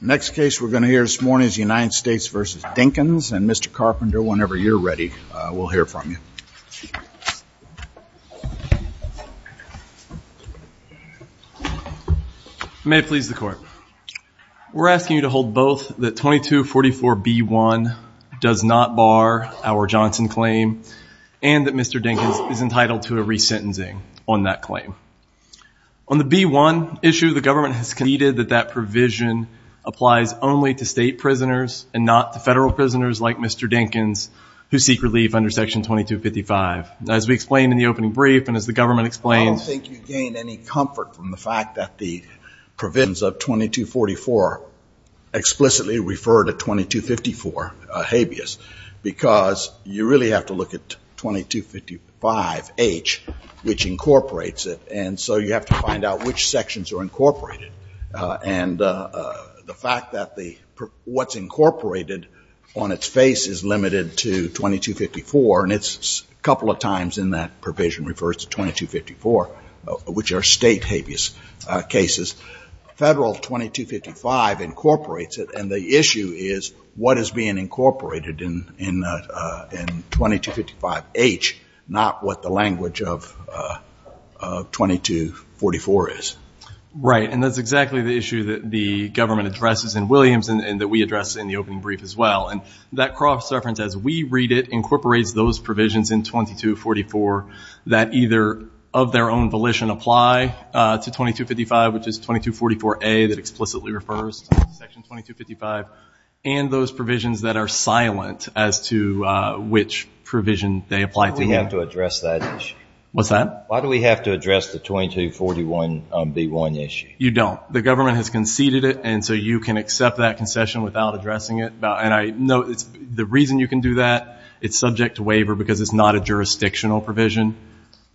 Next case we're going to hear this morning is United States v. Dinkins and Mr. Carpenter, whenever you're ready, we'll hear from you. May it please the court. We're asking you to hold both that 2244B1 does not bar our Johnson claim and that Mr. Dinkins is entitled to a resentencing on that provision applies only to state prisoners and not the federal prisoners like Mr. Dinkins who seek relief under section 2255. As we explained in the opening brief and as the government explains, I don't think you gain any comfort from the fact that the provisions of 2244 explicitly refer to 2254 habeas because you really have to look at 2255H which incorporates it and so you have to find out which sections are incorporated and the fact that what's incorporated on its face is limited to 2254 and it's a couple of times in that provision refers to 2254 which are state habeas cases. Federal 2255 incorporates it and the issue is what is being incorporated in 2255H not what the 2244 is. Right and that's exactly the issue that the government addresses in Williams and that we address in the opening brief as well and that cross reference as we read it incorporates those provisions in 2244 that either of their own volition apply to 2255 which is 2244A that explicitly refers to section 2255 and those provisions that are silent as to which provision they apply to. Why do we have to address that issue? What's that? Why do we have to address the 4141B1 issue? You don't. The government has conceded it and so you can accept that concession without addressing it and I know it's the reason you can do that it's subject to waiver because it's not a jurisdictional provision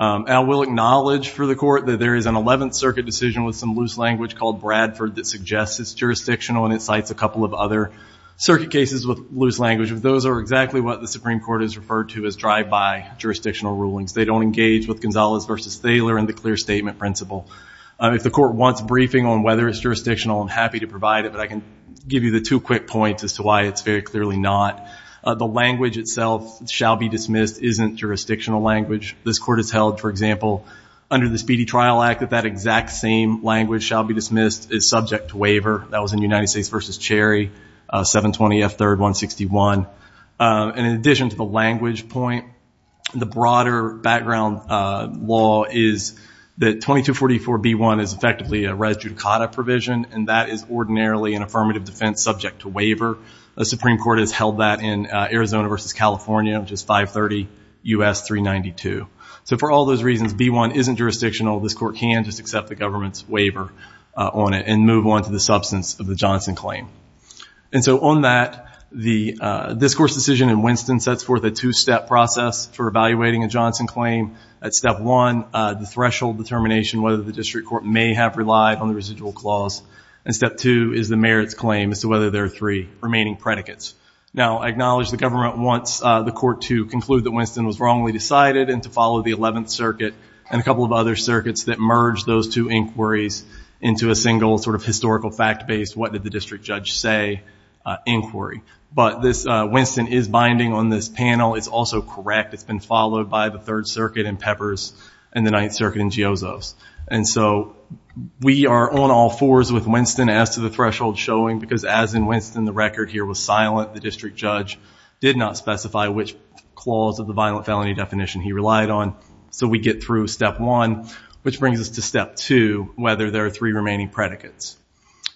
and we'll acknowledge for the court that there is an 11th Circuit decision with some loose language called Bradford that suggests it's jurisdictional and it cites a couple of other circuit cases with loose language. Those are exactly what the Supreme Court has referred to as drive-by jurisdictional rulings. They don't engage with Gonzalez versus Thaler in the clear statement principle. If the court wants briefing on whether it's jurisdictional I'm happy to provide it but I can give you the two quick points as to why it's very clearly not. The language itself shall be dismissed isn't jurisdictional language. This court has held for example under the Speedy Trial Act that that exact same language shall be dismissed is subject to waiver. That was in United States versus Cherry 720 F 3rd 161 and in addition to the language point the broader background law is that 2244 B1 is effectively a res judicata provision and that is ordinarily an affirmative defense subject to waiver. The Supreme Court has held that in Arizona versus California which is 530 U.S. 392. So for all those reasons B1 isn't jurisdictional this court can just accept the government's claim. And so on that the discourse decision in Winston sets forth a two step process for evaluating a Johnson claim. At step one the threshold determination whether the district court may have relied on the residual clause and step two is the merits claim as to whether there are three remaining predicates. Now I acknowledge the government wants the court to conclude that Winston was wrongly decided and to follow the 11th Circuit and a couple of other circuits that merged those two inquiries into a single sort of judge say inquiry. But this Winston is binding on this panel it's also correct it's been followed by the Third Circuit and Peppers and the Ninth Circuit and Geozo's. And so we are on all fours with Winston as to the threshold showing because as in Winston the record here was silent the district judge did not specify which clause of the violent felony definition he relied on. So we get through step one which brings us to step two whether there are three remaining predicates.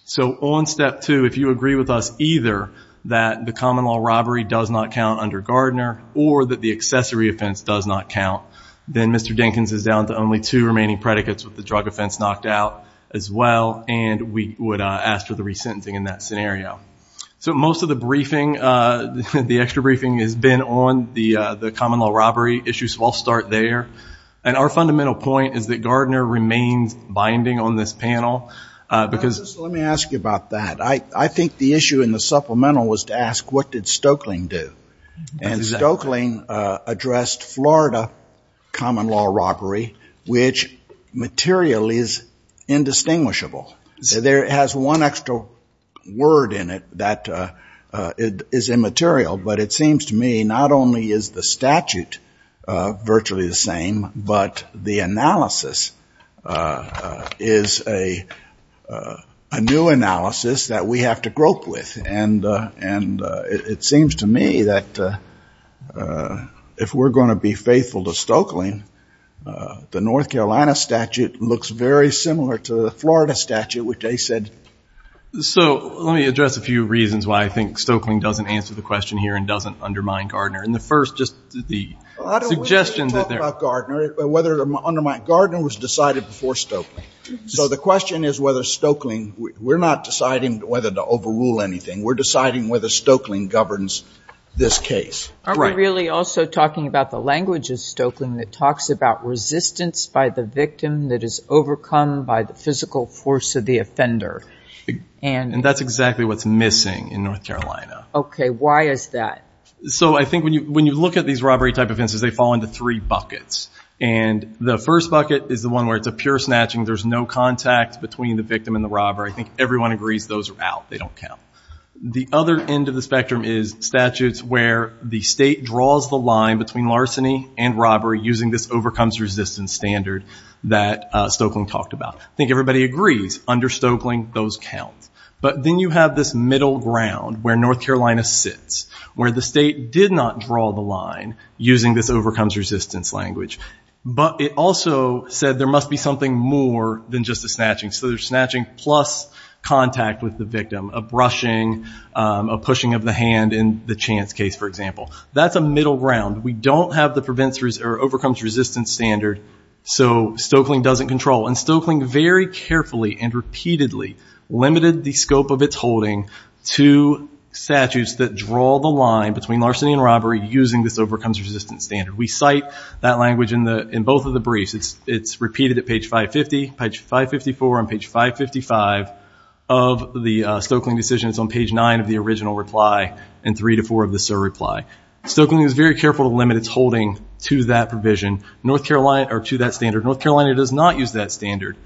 So on step two if you agree with us either that the common law robbery does not count under Gardner or that the accessory offense does not count then Mr. Dinkins is down to only two remaining predicates with the drug offense knocked out as well and we would ask for the re-sentencing in that scenario. So most of the briefing the extra briefing has been on the the common law robbery issues. So I'll start there and our fundamental point is that binding on this panel because let me ask you about that I I think the issue in the supplemental was to ask what did Stokeling do? And Stokeling addressed Florida common law robbery which material is indistinguishable. So there has one extra word in it that it is immaterial but it seems to me not only is the statute virtually the same but the analysis is a a new analysis that we have to grope with and and it seems to me that if we're going to be faithful to Stokeling the North Carolina statute looks very similar to the Florida statute which they said. So let me address a few reasons why I think Stokeling doesn't answer the question here and doesn't undermine Gardner and the first just the suggestion that there are Gardner whether undermine Gardner was decided before Stokeling. So the question is whether Stokeling we're not deciding whether to overrule anything we're deciding whether Stokeling governs this case. Are we really also talking about the language of Stokeling that talks about resistance by the victim that is overcome by the physical force of the offender? And that's exactly what's missing in North Carolina. Okay I think when you when you look at these robbery type offenses they fall into three buckets and the first bucket is the one where it's a pure snatching there's no contact between the victim and the robber I think everyone agrees those are out they don't count. The other end of the spectrum is statutes where the state draws the line between larceny and robbery using this overcomes resistance standard that Stokeling talked about. I think everybody agrees under Stokeling those count but then you have this middle ground where North Carolina does not draw the line using this overcomes resistance language but it also said there must be something more than just a snatching so there's snatching plus contact with the victim a brushing a pushing of the hand in the chance case for example. That's a middle ground we don't have the prevents or overcomes resistance standard so Stokeling doesn't control and Stokeling very carefully and repeatedly limited the scope of its holding to statutes that draw the line between larceny and robbery using this overcomes resistance standard we cite that language in the in both of the briefs it's it's repeated at page 550 page 554 on page 555 of the Stokeling decisions on page 9 of the original reply and three to four of the sir reply. Stokeling is very careful to limit its holding to that provision North Carolina or to that standard North Carolina does not use that standard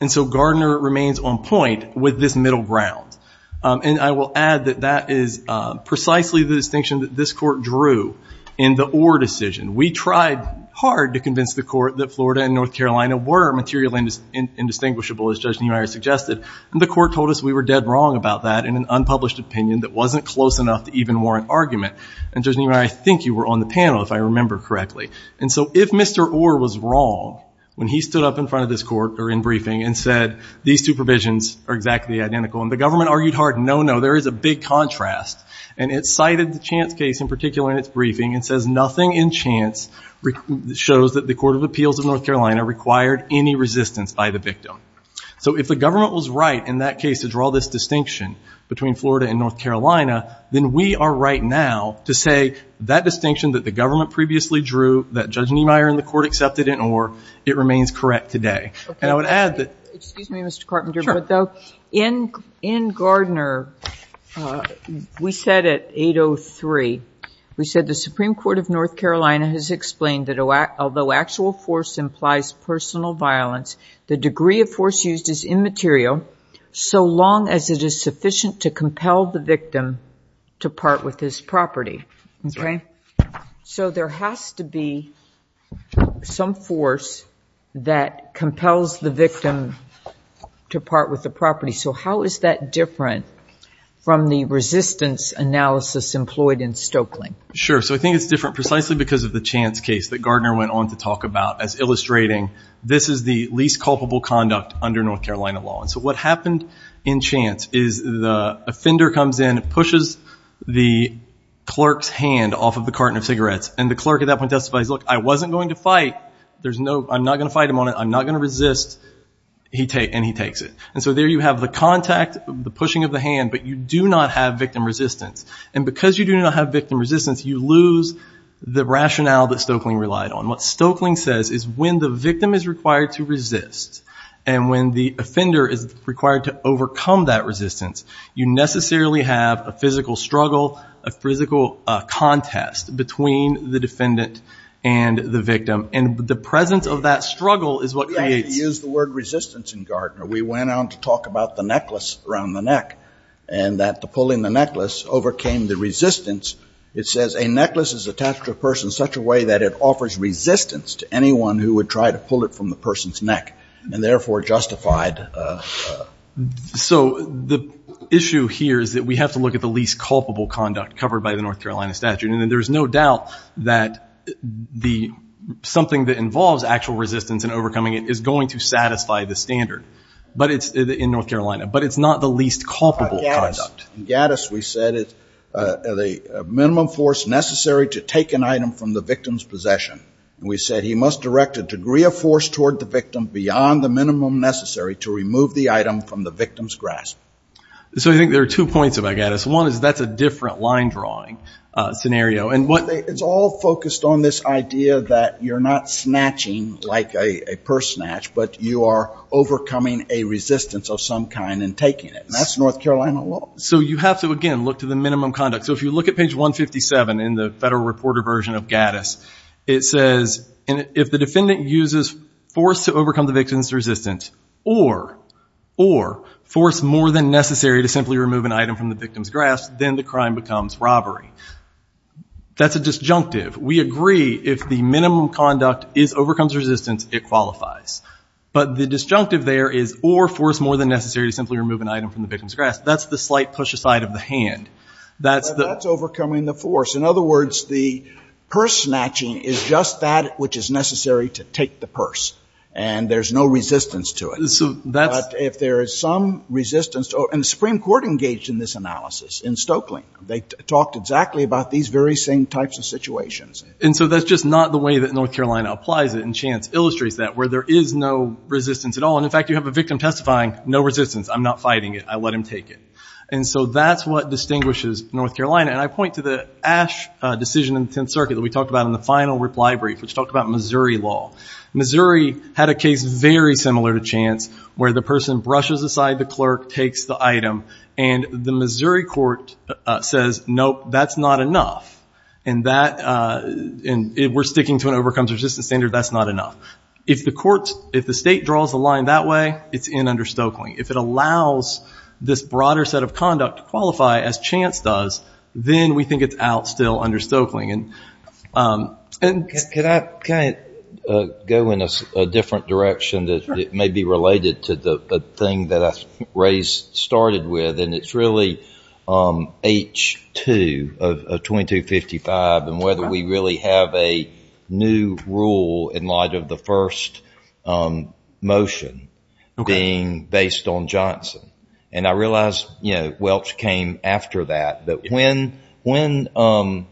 and so Gardner remains on point with this middle ground and I will add that that is precisely the distinction that this court drew in the Orr decision we tried hard to convince the court that Florida and North Carolina were materially indistinguishable as Judge Neumeyer suggested and the court told us we were dead wrong about that in an unpublished opinion that wasn't close enough to even warrant argument and Judge Neumeyer I think you were on the panel if I remember correctly and so if Mr. Orr was wrong when he stood up in front of this court or in briefing and said these two and the government argued hard no no there is a big contrast and it cited the chance case in particular in its briefing and says nothing in chance shows that the Court of Appeals of North Carolina required any resistance by the victim so if the government was right in that case to draw this distinction between Florida and North Carolina then we are right now to say that distinction that the government previously drew that Judge Neumeyer in the court accepted in excuse me Mr. Carpenter but though in in Gardner we said at 803 we said the Supreme Court of North Carolina has explained that although actual force implies personal violence the degree of force used is immaterial so long as it is sufficient to compel the victim to part with his property okay so there has to be some force that compels the victim to part with the property so how is that different from the resistance analysis employed in Stokelyn sure so I think it's different precisely because of the chance case that Gardner went on to talk about as illustrating this is the least culpable conduct under North Carolina law and so what happened in chance is the offender comes in it pushes the clerk's hand off of the carton of cigarettes and the clerk at that point testifies look I wasn't going to fight there's no I'm not gonna fight him on it I'm not gonna resist he take and he takes it and so there you have the contact the pushing of the hand but you do not have victim resistance and because you do not have victim resistance you lose the rationale that Stokeling relied on what Stokeling says is when the victim is required to resist and when the offender is required to overcome that resistance you necessarily have a physical struggle a physical contest between the defendant and the victim and the presence of that struggle is what they use the word resistance in Gardner we went on to talk about the necklace around the neck and that the pulling the necklace overcame the resistance it says a necklace is attached to a person such a way that it offers resistance to anyone who would try to pull it from the person's neck and therefore justified so the issue here is that we have to look at the least culpable conduct covered by the something that involves actual resistance and overcoming it is going to satisfy the standard but it's in North Carolina but it's not the least culpable conduct. In Gattis we said it the minimum force necessary to take an item from the victim's possession we said he must direct a degree of force toward the victim beyond the minimum necessary to remove the item from the victim's grasp. So I think there are two points about Gattis one is that's a line drawing scenario and what it's all focused on this idea that you're not snatching like a purse snatch but you are overcoming a resistance of some kind and taking it that's North Carolina law. So you have to again look to the minimum conduct so if you look at page 157 in the federal reporter version of Gattis it says if the defendant uses force to overcome the victim's resistance or or force more than necessary to simply remove an item from the victim's grasp then the crime becomes robbery. That's a disjunctive we agree if the minimum conduct is overcomes resistance it qualifies but the disjunctive there is or force more than necessary to simply remove an item from the victim's grasp that's the slight push aside of the hand. That's the overcoming the force in other words the purse snatching is just that which is necessary to take the purse and there's no resistance to it. So that if there is some resistance and the Supreme Court in Stokely they talked exactly about these very same types of situations. And so that's just not the way that North Carolina applies it and Chance illustrates that where there is no resistance at all and in fact you have a victim testifying no resistance I'm not fighting it I let him take it and so that's what distinguishes North Carolina and I point to the Ash decision in the Tenth Circuit that we talked about in the final reply brief which talked about Missouri law. Missouri had a case very similar to Chance where the Missouri court says nope that's not enough and that and we're sticking to an overcomes resistance standard that's not enough. If the courts if the state draws the line that way it's in under Stokely. If it allows this broader set of conduct to qualify as Chance does then we think it's out still under Stokely. And can I go in a different direction that it may be related to the thing that Ray's started with and it's really H2 of 2255 and whether we really have a new rule in light of the first motion being based on Johnson and I realize you know Welch came after that but when when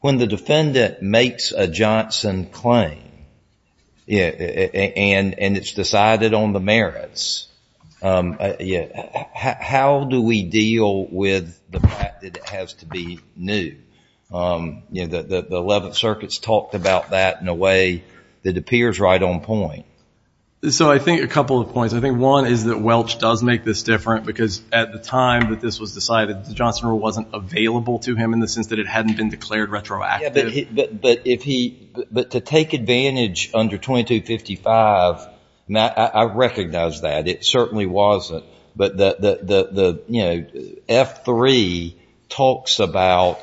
when the defendant makes a Johnson claim yeah and and it's decided on the merits yeah how do we deal with the fact that it has to be new you know that the Eleventh Circuit's talked about that in a way that appears right on point. So I think a couple of points I think one is that Welch does make this different because at the time that this was decided the Johnson rule wasn't available to him in the sense that it advantage under 2255 now I recognize that it certainly wasn't but the the you know F3 talks about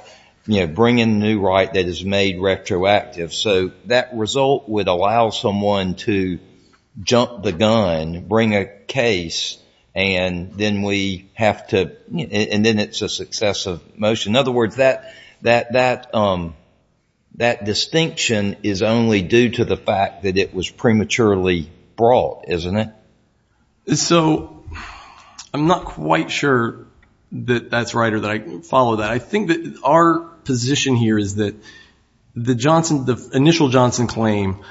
you know bringing new right that is made retroactive so that result would allow someone to jump the gun bring a case and then we have to and then it's a successive motion. In other words that that that that distinction is only due to the fact that it was prematurely brought isn't it? So I'm not quite sure that that's right or that I can follow that I think that our position here is that the Johnson the initial Johnson claim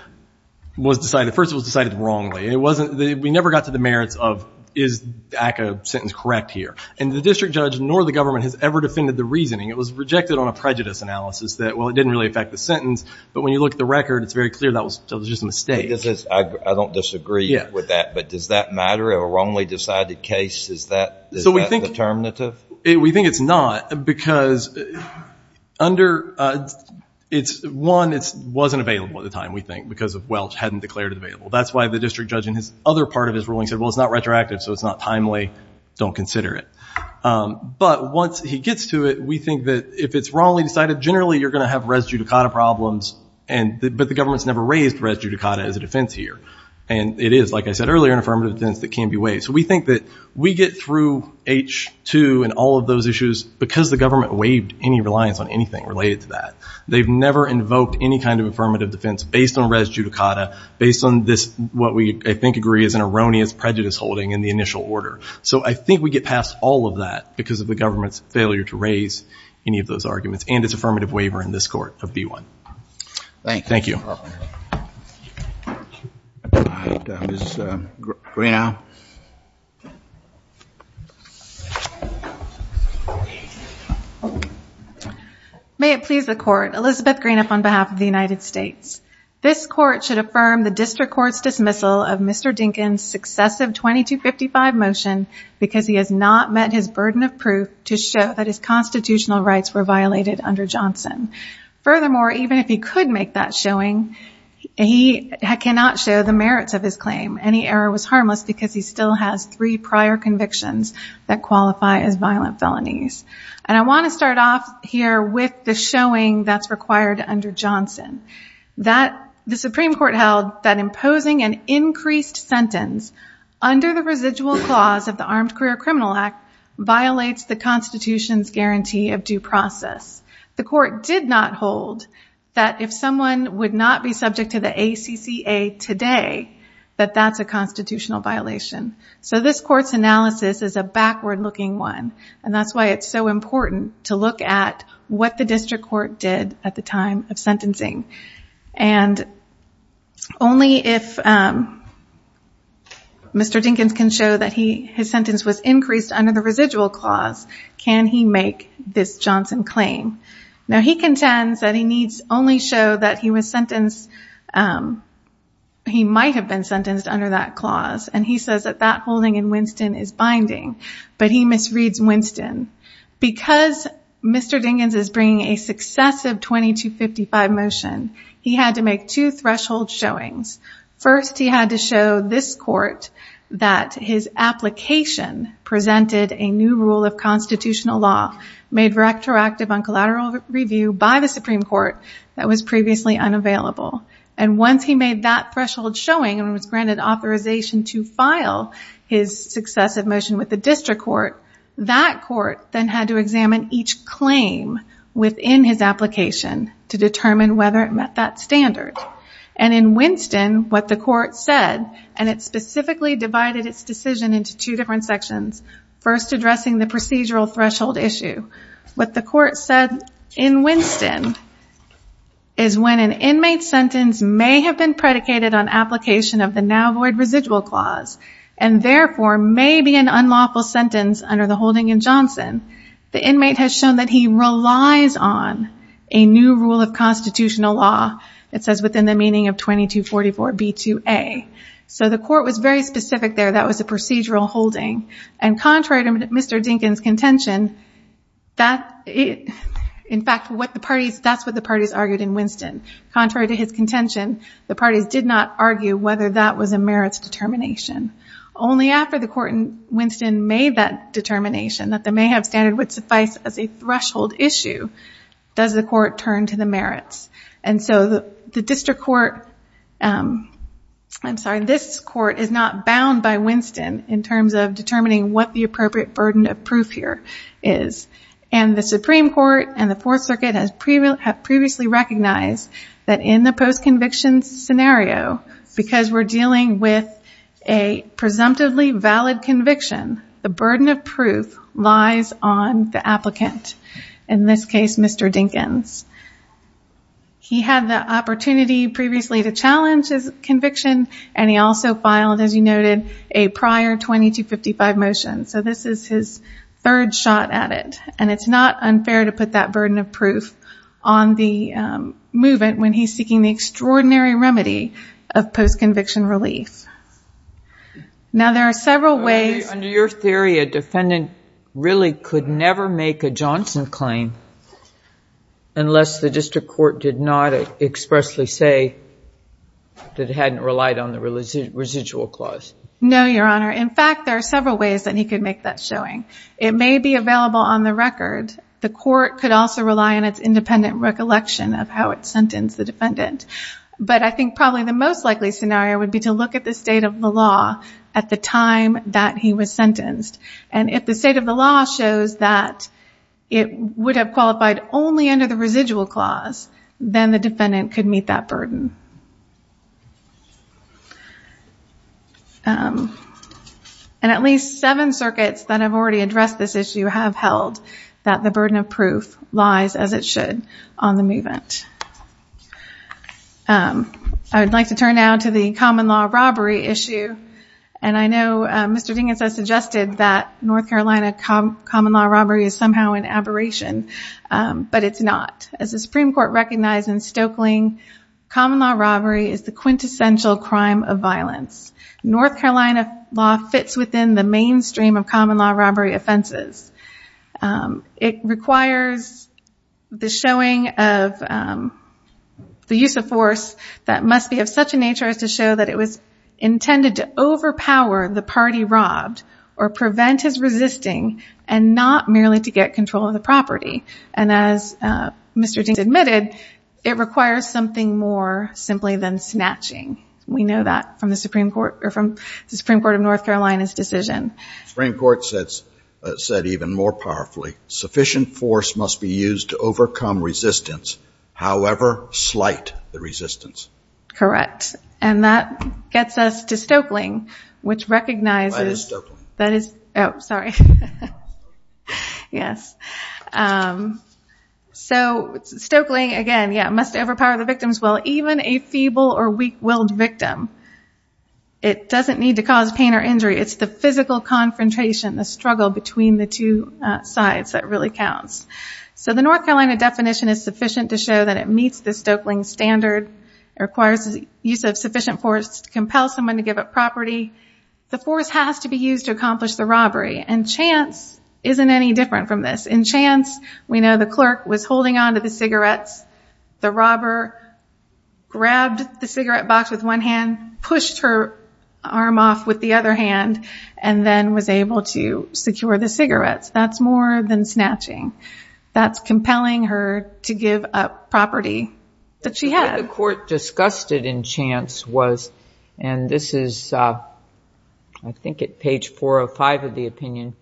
was decided first it was decided wrongly it wasn't we never got to the merits of is ACA sentence correct here and the district judge nor the government has ever defended the reasoning it was rejected on a prejudice analysis that well it didn't really affect the sentence but when you look at the record it's very clear that was just a mistake this is I don't disagree with that but does that matter a wrongly decided case is that so we think the term native it we think it's not because under it's one it wasn't available at the time we think because of Welch hadn't declared it available that's why the district judge in his other part of his ruling said well it's not retroactive so it's not timely don't consider it but once he gets to it we think that if it's wrongly decided generally you're gonna have res judicata problems and but the government's never raised res judicata as a defense here and it is like I said earlier an affirmative defense that can be waived so we think that we get through h2 and all of those issues because the government waived any reliance on anything related to that they've never invoked any kind of affirmative defense based on res judicata based on this what we think agree is an erroneous prejudice holding in the initial order so I think we get past all of that because of the government's failure to raise any of those arguments and it's affirmative waiver in this court of b1 thank thank you may it please the court Elizabeth green up on behalf of the United States this court should affirm the district courts dismissal of mr. Dinkins successive 22 55 motion because he has not met his burden of proof to show that his constitutional rights were violated under Johnson furthermore even if he could make that showing he cannot show the merits of his claim any error was harmless because he still has three prior convictions that qualify as violent felonies and I want to start off here with the showing that's required under Johnson that the Supreme Court held that imposing an increased sentence under the residual clause of the Armed Career Criminal Act violates the Constitution's guarantee of due process the court did not hold that if someone would not be subject to the ACCA today that that's a constitutional violation so this court's analysis is a backward-looking one and that's why it's so important to look at what the district court did at the time of sentencing and only if mr. Dinkins can show that he his sentence was increased under the residual clause can he make this Johnson claim now he contends that he needs only show that he was sentenced he might have been sentenced under that clause and he says that that holding in Winston is binding but he misreads Winston because mr. Dinkins is bringing a successive 22 55 motion he had to make two threshold showings first he had to show this court that his application presented a new rule of constitutional law made retroactive on collateral review by the Supreme Court that was previously unavailable and once he made that threshold showing and was granted authorization to file his successive motion with the district court that court then had to examine each claim within his application to determine whether it met that standard and in Winston what the court said and it specifically divided its decision into two different sections first addressing the procedural threshold issue what the court said in Winston is when an inmate sentence may have been predicated on application of the now void residual clause and therefore maybe an unlawful sentence under the holding in Johnson the inmate has shown that he relies on a new rule of constitutional law it says within the meaning of 22 44 b2a so the and contrary to mr. Dinkins contention that it in fact what the parties that's what the parties argued in Winston contrary to his contention the parties did not argue whether that was a merits determination only after the court in Winston made that determination that they may have standard would suffice as a threshold issue does the court turn to the merits and so the district court I'm sorry this court is not bound by Winston in terms of determining what the appropriate burden of proof here is and the Supreme Court and the Fourth Circuit has previously recognized that in the post convictions scenario because we're dealing with a presumptively valid conviction the burden of proof lies on the applicant in this case mr. Dinkins he had the opportunity previously to conviction and he also filed as you noted a prior 2255 motion so this is his third shot at it and it's not unfair to put that burden of proof on the movement when he's seeking the extraordinary remedy of post conviction relief now there are several ways under your theory a defendant really could never make a that hadn't relied on the residual clause no your honor in fact there are several ways that he could make that showing it may be available on the record the court could also rely on its independent recollection of how it sentenced the defendant but I think probably the most likely scenario would be to look at the state of the law at the time that he was sentenced and if the state of the law shows that it would have qualified only under the residual clause then the defendant could meet that burden and at least seven circuits that have already addressed this issue have held that the burden of proof lies as it should on the movement I would like to turn now to the common law robbery issue and I know mr. Dinkins I suggested that North Carolina common law recognized in Stokeling common law robbery is the quintessential crime of violence North Carolina law fits within the mainstream of common law robbery offenses it requires the showing of the use of force that must be of such a nature as to show that it was intended to overpower the party robbed or prevent his resisting and not merely to get control of the property and as mr. Dinkins admitted it requires something more simply than snatching we know that from the Supreme Court or from the Supreme Court of North Carolina's decision Supreme Court sets said even more powerfully sufficient force must be used to overcome resistance however slight the resistance correct and that gets us to Stokeling which recognizes that is oh sorry yes so Stokeling again yeah must overpower the victims well even a feeble or weak-willed victim it doesn't need to cause pain or injury it's the physical confrontation the struggle between the two sides that really counts so the North Carolina definition is sufficient to show that it meets the Stokeling standard requires use of sufficient force to compel someone to give up property the force has to be used to accomplish the robbery and chance isn't any different from this in chance we know the clerk was holding on to the cigarettes the robber grabbed the cigarette box with one hand pushed her arm off with the other hand and then was able to secure the cigarettes that's more than snatching that's compelling her to give up property that she had the court discussed it in chance was and this is I think it page 405 of the opinion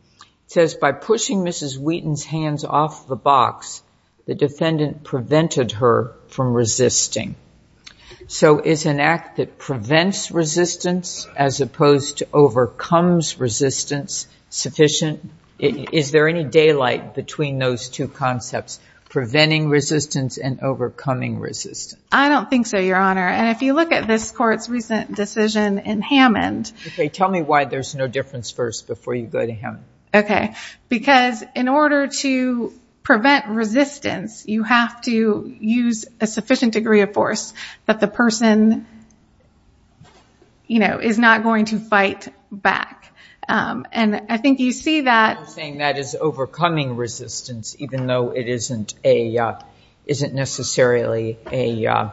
says by pushing mrs. Wheaton's hands off the box the defendant prevented her from resisting so is an act that prevents resistance as opposed to overcomes resistance sufficient is there any daylight between those two concepts preventing resistance and overcoming resistance I don't think so your honor and if you look at this court's recent decision in Hammond they tell me why there's no difference first before you go to him okay because in order to prevent resistance you have to use a sufficient degree of force that the person you know is not going to resistance even though it isn't a isn't necessarily a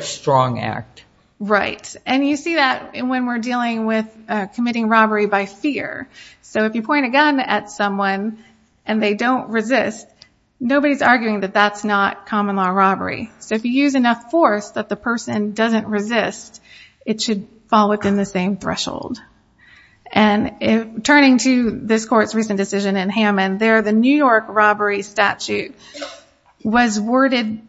strong act right and you see that and when we're dealing with committing robbery by fear so if you point a gun at someone and they don't resist nobody's arguing that that's not common-law robbery so if you use enough force that the person doesn't resist it should fall within the same threshold and if turning to this court's recent decision in Hammond there the New York robbery statute was worded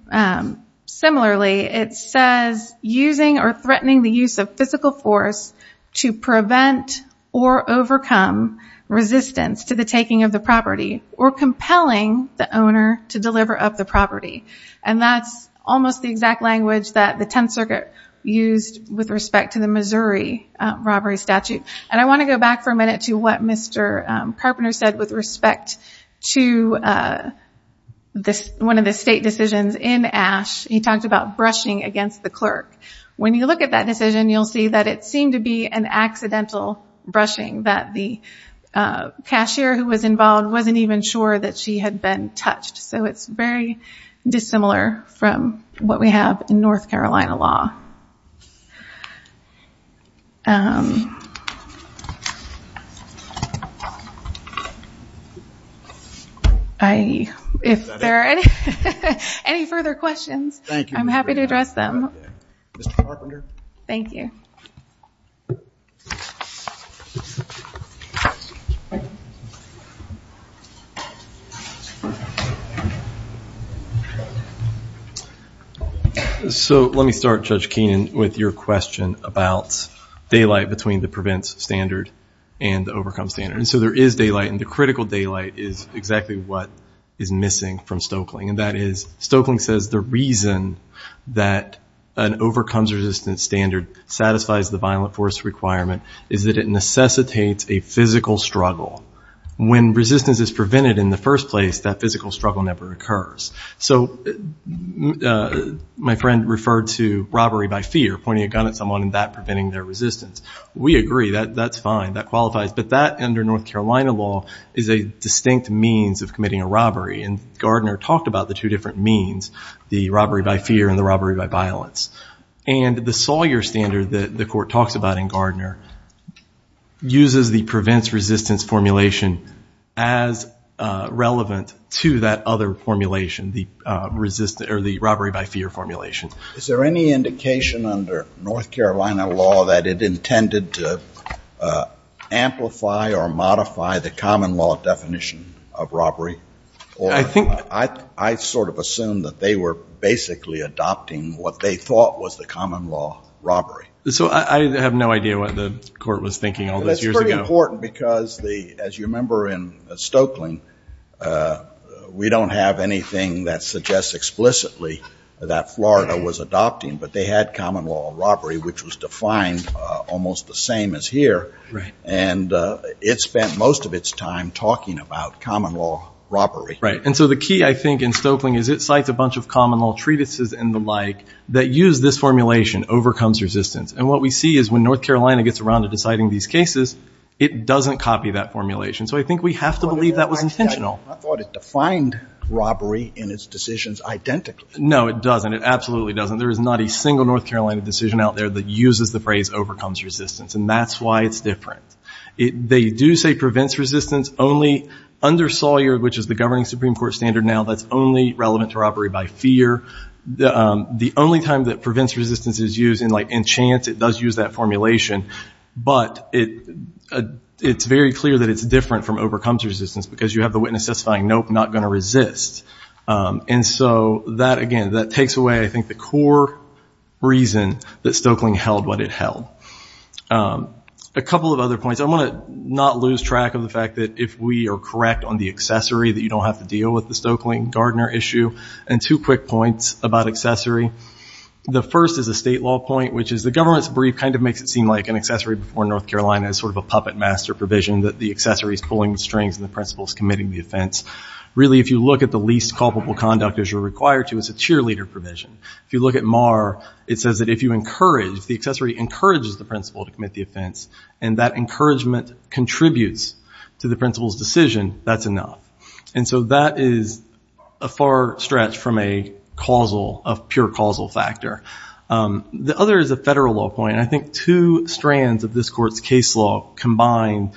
similarly it says using or threatening the use of physical force to prevent or overcome resistance to the taking of the property or compelling the owner to deliver up the property and that's almost the exact language that the 10th Circuit used with respect to the Missouri robbery statute and I want to go back for a minute to what Mr. Carpenter said with respect to this one of the state decisions in ash he talked about brushing against the clerk when you look at that decision you'll see that it seemed to be an accidental brushing that the cashier who was involved wasn't even sure that she had been touched so it's very dissimilar from what we have in North Carolina law I if there are any further questions I'm happy to address them thank you so let me start judge Keenan with your question about daylight between the prevents standard and overcome standard so there is daylight and the critical daylight is exactly what is missing from Stokeling and that is Stokeling says the reason that an overcomes resistance standard satisfies the violent force requirement is that it necessitates a physical struggle when resistance is my friend referred to robbery by fear pointing a gun at someone in that preventing their resistance we agree that that's fine that qualifies but that under North Carolina law is a distinct means of committing a robbery and Gardner talked about the two different means the robbery by fear and the robbery by violence and the Sawyer standard that the court talks about in Gardner uses the prevents resistance formulation as relevant to that other formulation the resistance or the robbery by fear formulation is there any indication under North Carolina law that it intended to amplify or modify the common law definition of robbery I think I sort of assumed that they were basically adopting what they thought was the common law robbery so I have no idea what the court was thinking all those years ago important because the as you have anything that suggests explicitly that Florida was adopting but they had common law robbery which was defined almost the same as here and it spent most of its time talking about common law robbery right and so the key I think in Stokeling is it cites a bunch of common law treatises and the like that use this formulation overcomes resistance and what we see is when North Carolina gets around to deciding these cases it doesn't copy that formulation so I think we have to believe that was intentional I thought it defined robbery in its decisions identically no it doesn't it absolutely doesn't there is not a single North Carolina decision out there that uses the phrase overcomes resistance and that's why it's different it they do say prevents resistance only under Sawyer which is the governing Supreme Court standard now that's only relevant to robbery by fear the the only time that prevents resistance is using like in chance it does use that formulation but it it's very clear that it's different from overcomes resistance because you have the witness testifying nope not going to resist and so that again that takes away I think the core reason that Stokeling held what it held a couple of other points I'm going to not lose track of the fact that if we are correct on the accessory that you don't have to deal with the Stokeling Gardner issue and two quick points about accessory the first is a state law point which is the government's brief kind of makes it seem like an accessory before North Carolina is sort of a puppet master provision that the accessories pulling the strings and the principles committing the offense really if you look at the least culpable conduct as you're required to as a cheerleader provision if you look at Marr it says that if you encourage the accessory encourages the principal to commit the offense and that encouragement contributes to the principal's decision that's enough and so that is a far stretch from a causal of pure causal factor the other is a federal law point I think two strands of this court's case law combined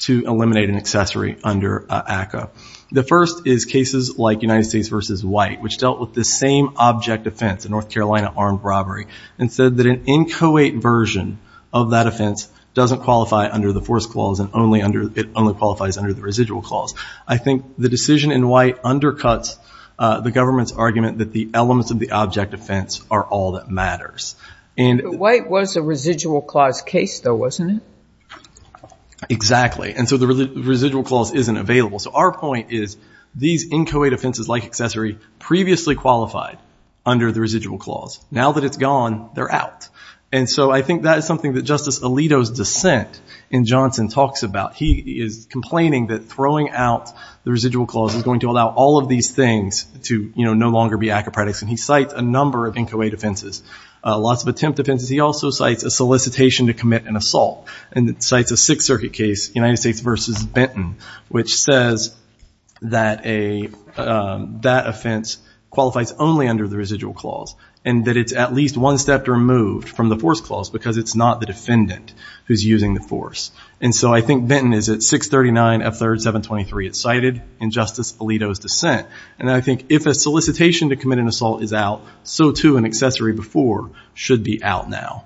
to eliminate an accessory under ACA the first is cases like United States versus white which dealt with the same object offense in North Carolina armed robbery and said that an inchoate version of that offense doesn't qualify under the force clause and only under it only qualifies under the residual clause I think the decision in white undercuts the government's argument that the elements of the object offense are all that matters and white was a residual clause case though wasn't it exactly and so the residual clause isn't available so our point is these inchoate offenses like accessory previously qualified under the residual clause now that it's gone they're out and so I think that is something that Justice Alito's dissent in Johnson talks about he is complaining that throwing out the residual clause is going to allow all of these things to you know no longer be acrobatics and he defenses lots of attempt defenses he also cites a solicitation to commit an assault and it cites a Sixth Circuit case United States versus Benton which says that a that offense qualifies only under the residual clause and that it's at least one step removed from the force clause because it's not the defendant who's using the force and so I think Benton is at 639 of third 723 it's cited in Justice Alito's dissent and I think if a solicitation to commit an accessory before should be out now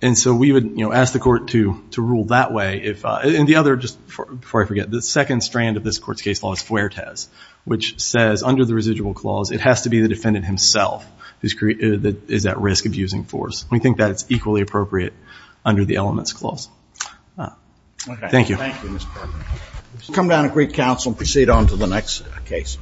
and so we would you know ask the court to to rule that way if and the other just before I forget the second strand of this court's case law is Fuertes which says under the residual clause it has to be the defendant himself who's created that is at risk of using force we think that it's equally appropriate under the elements clause thank you come down a great counsel proceed on to the next case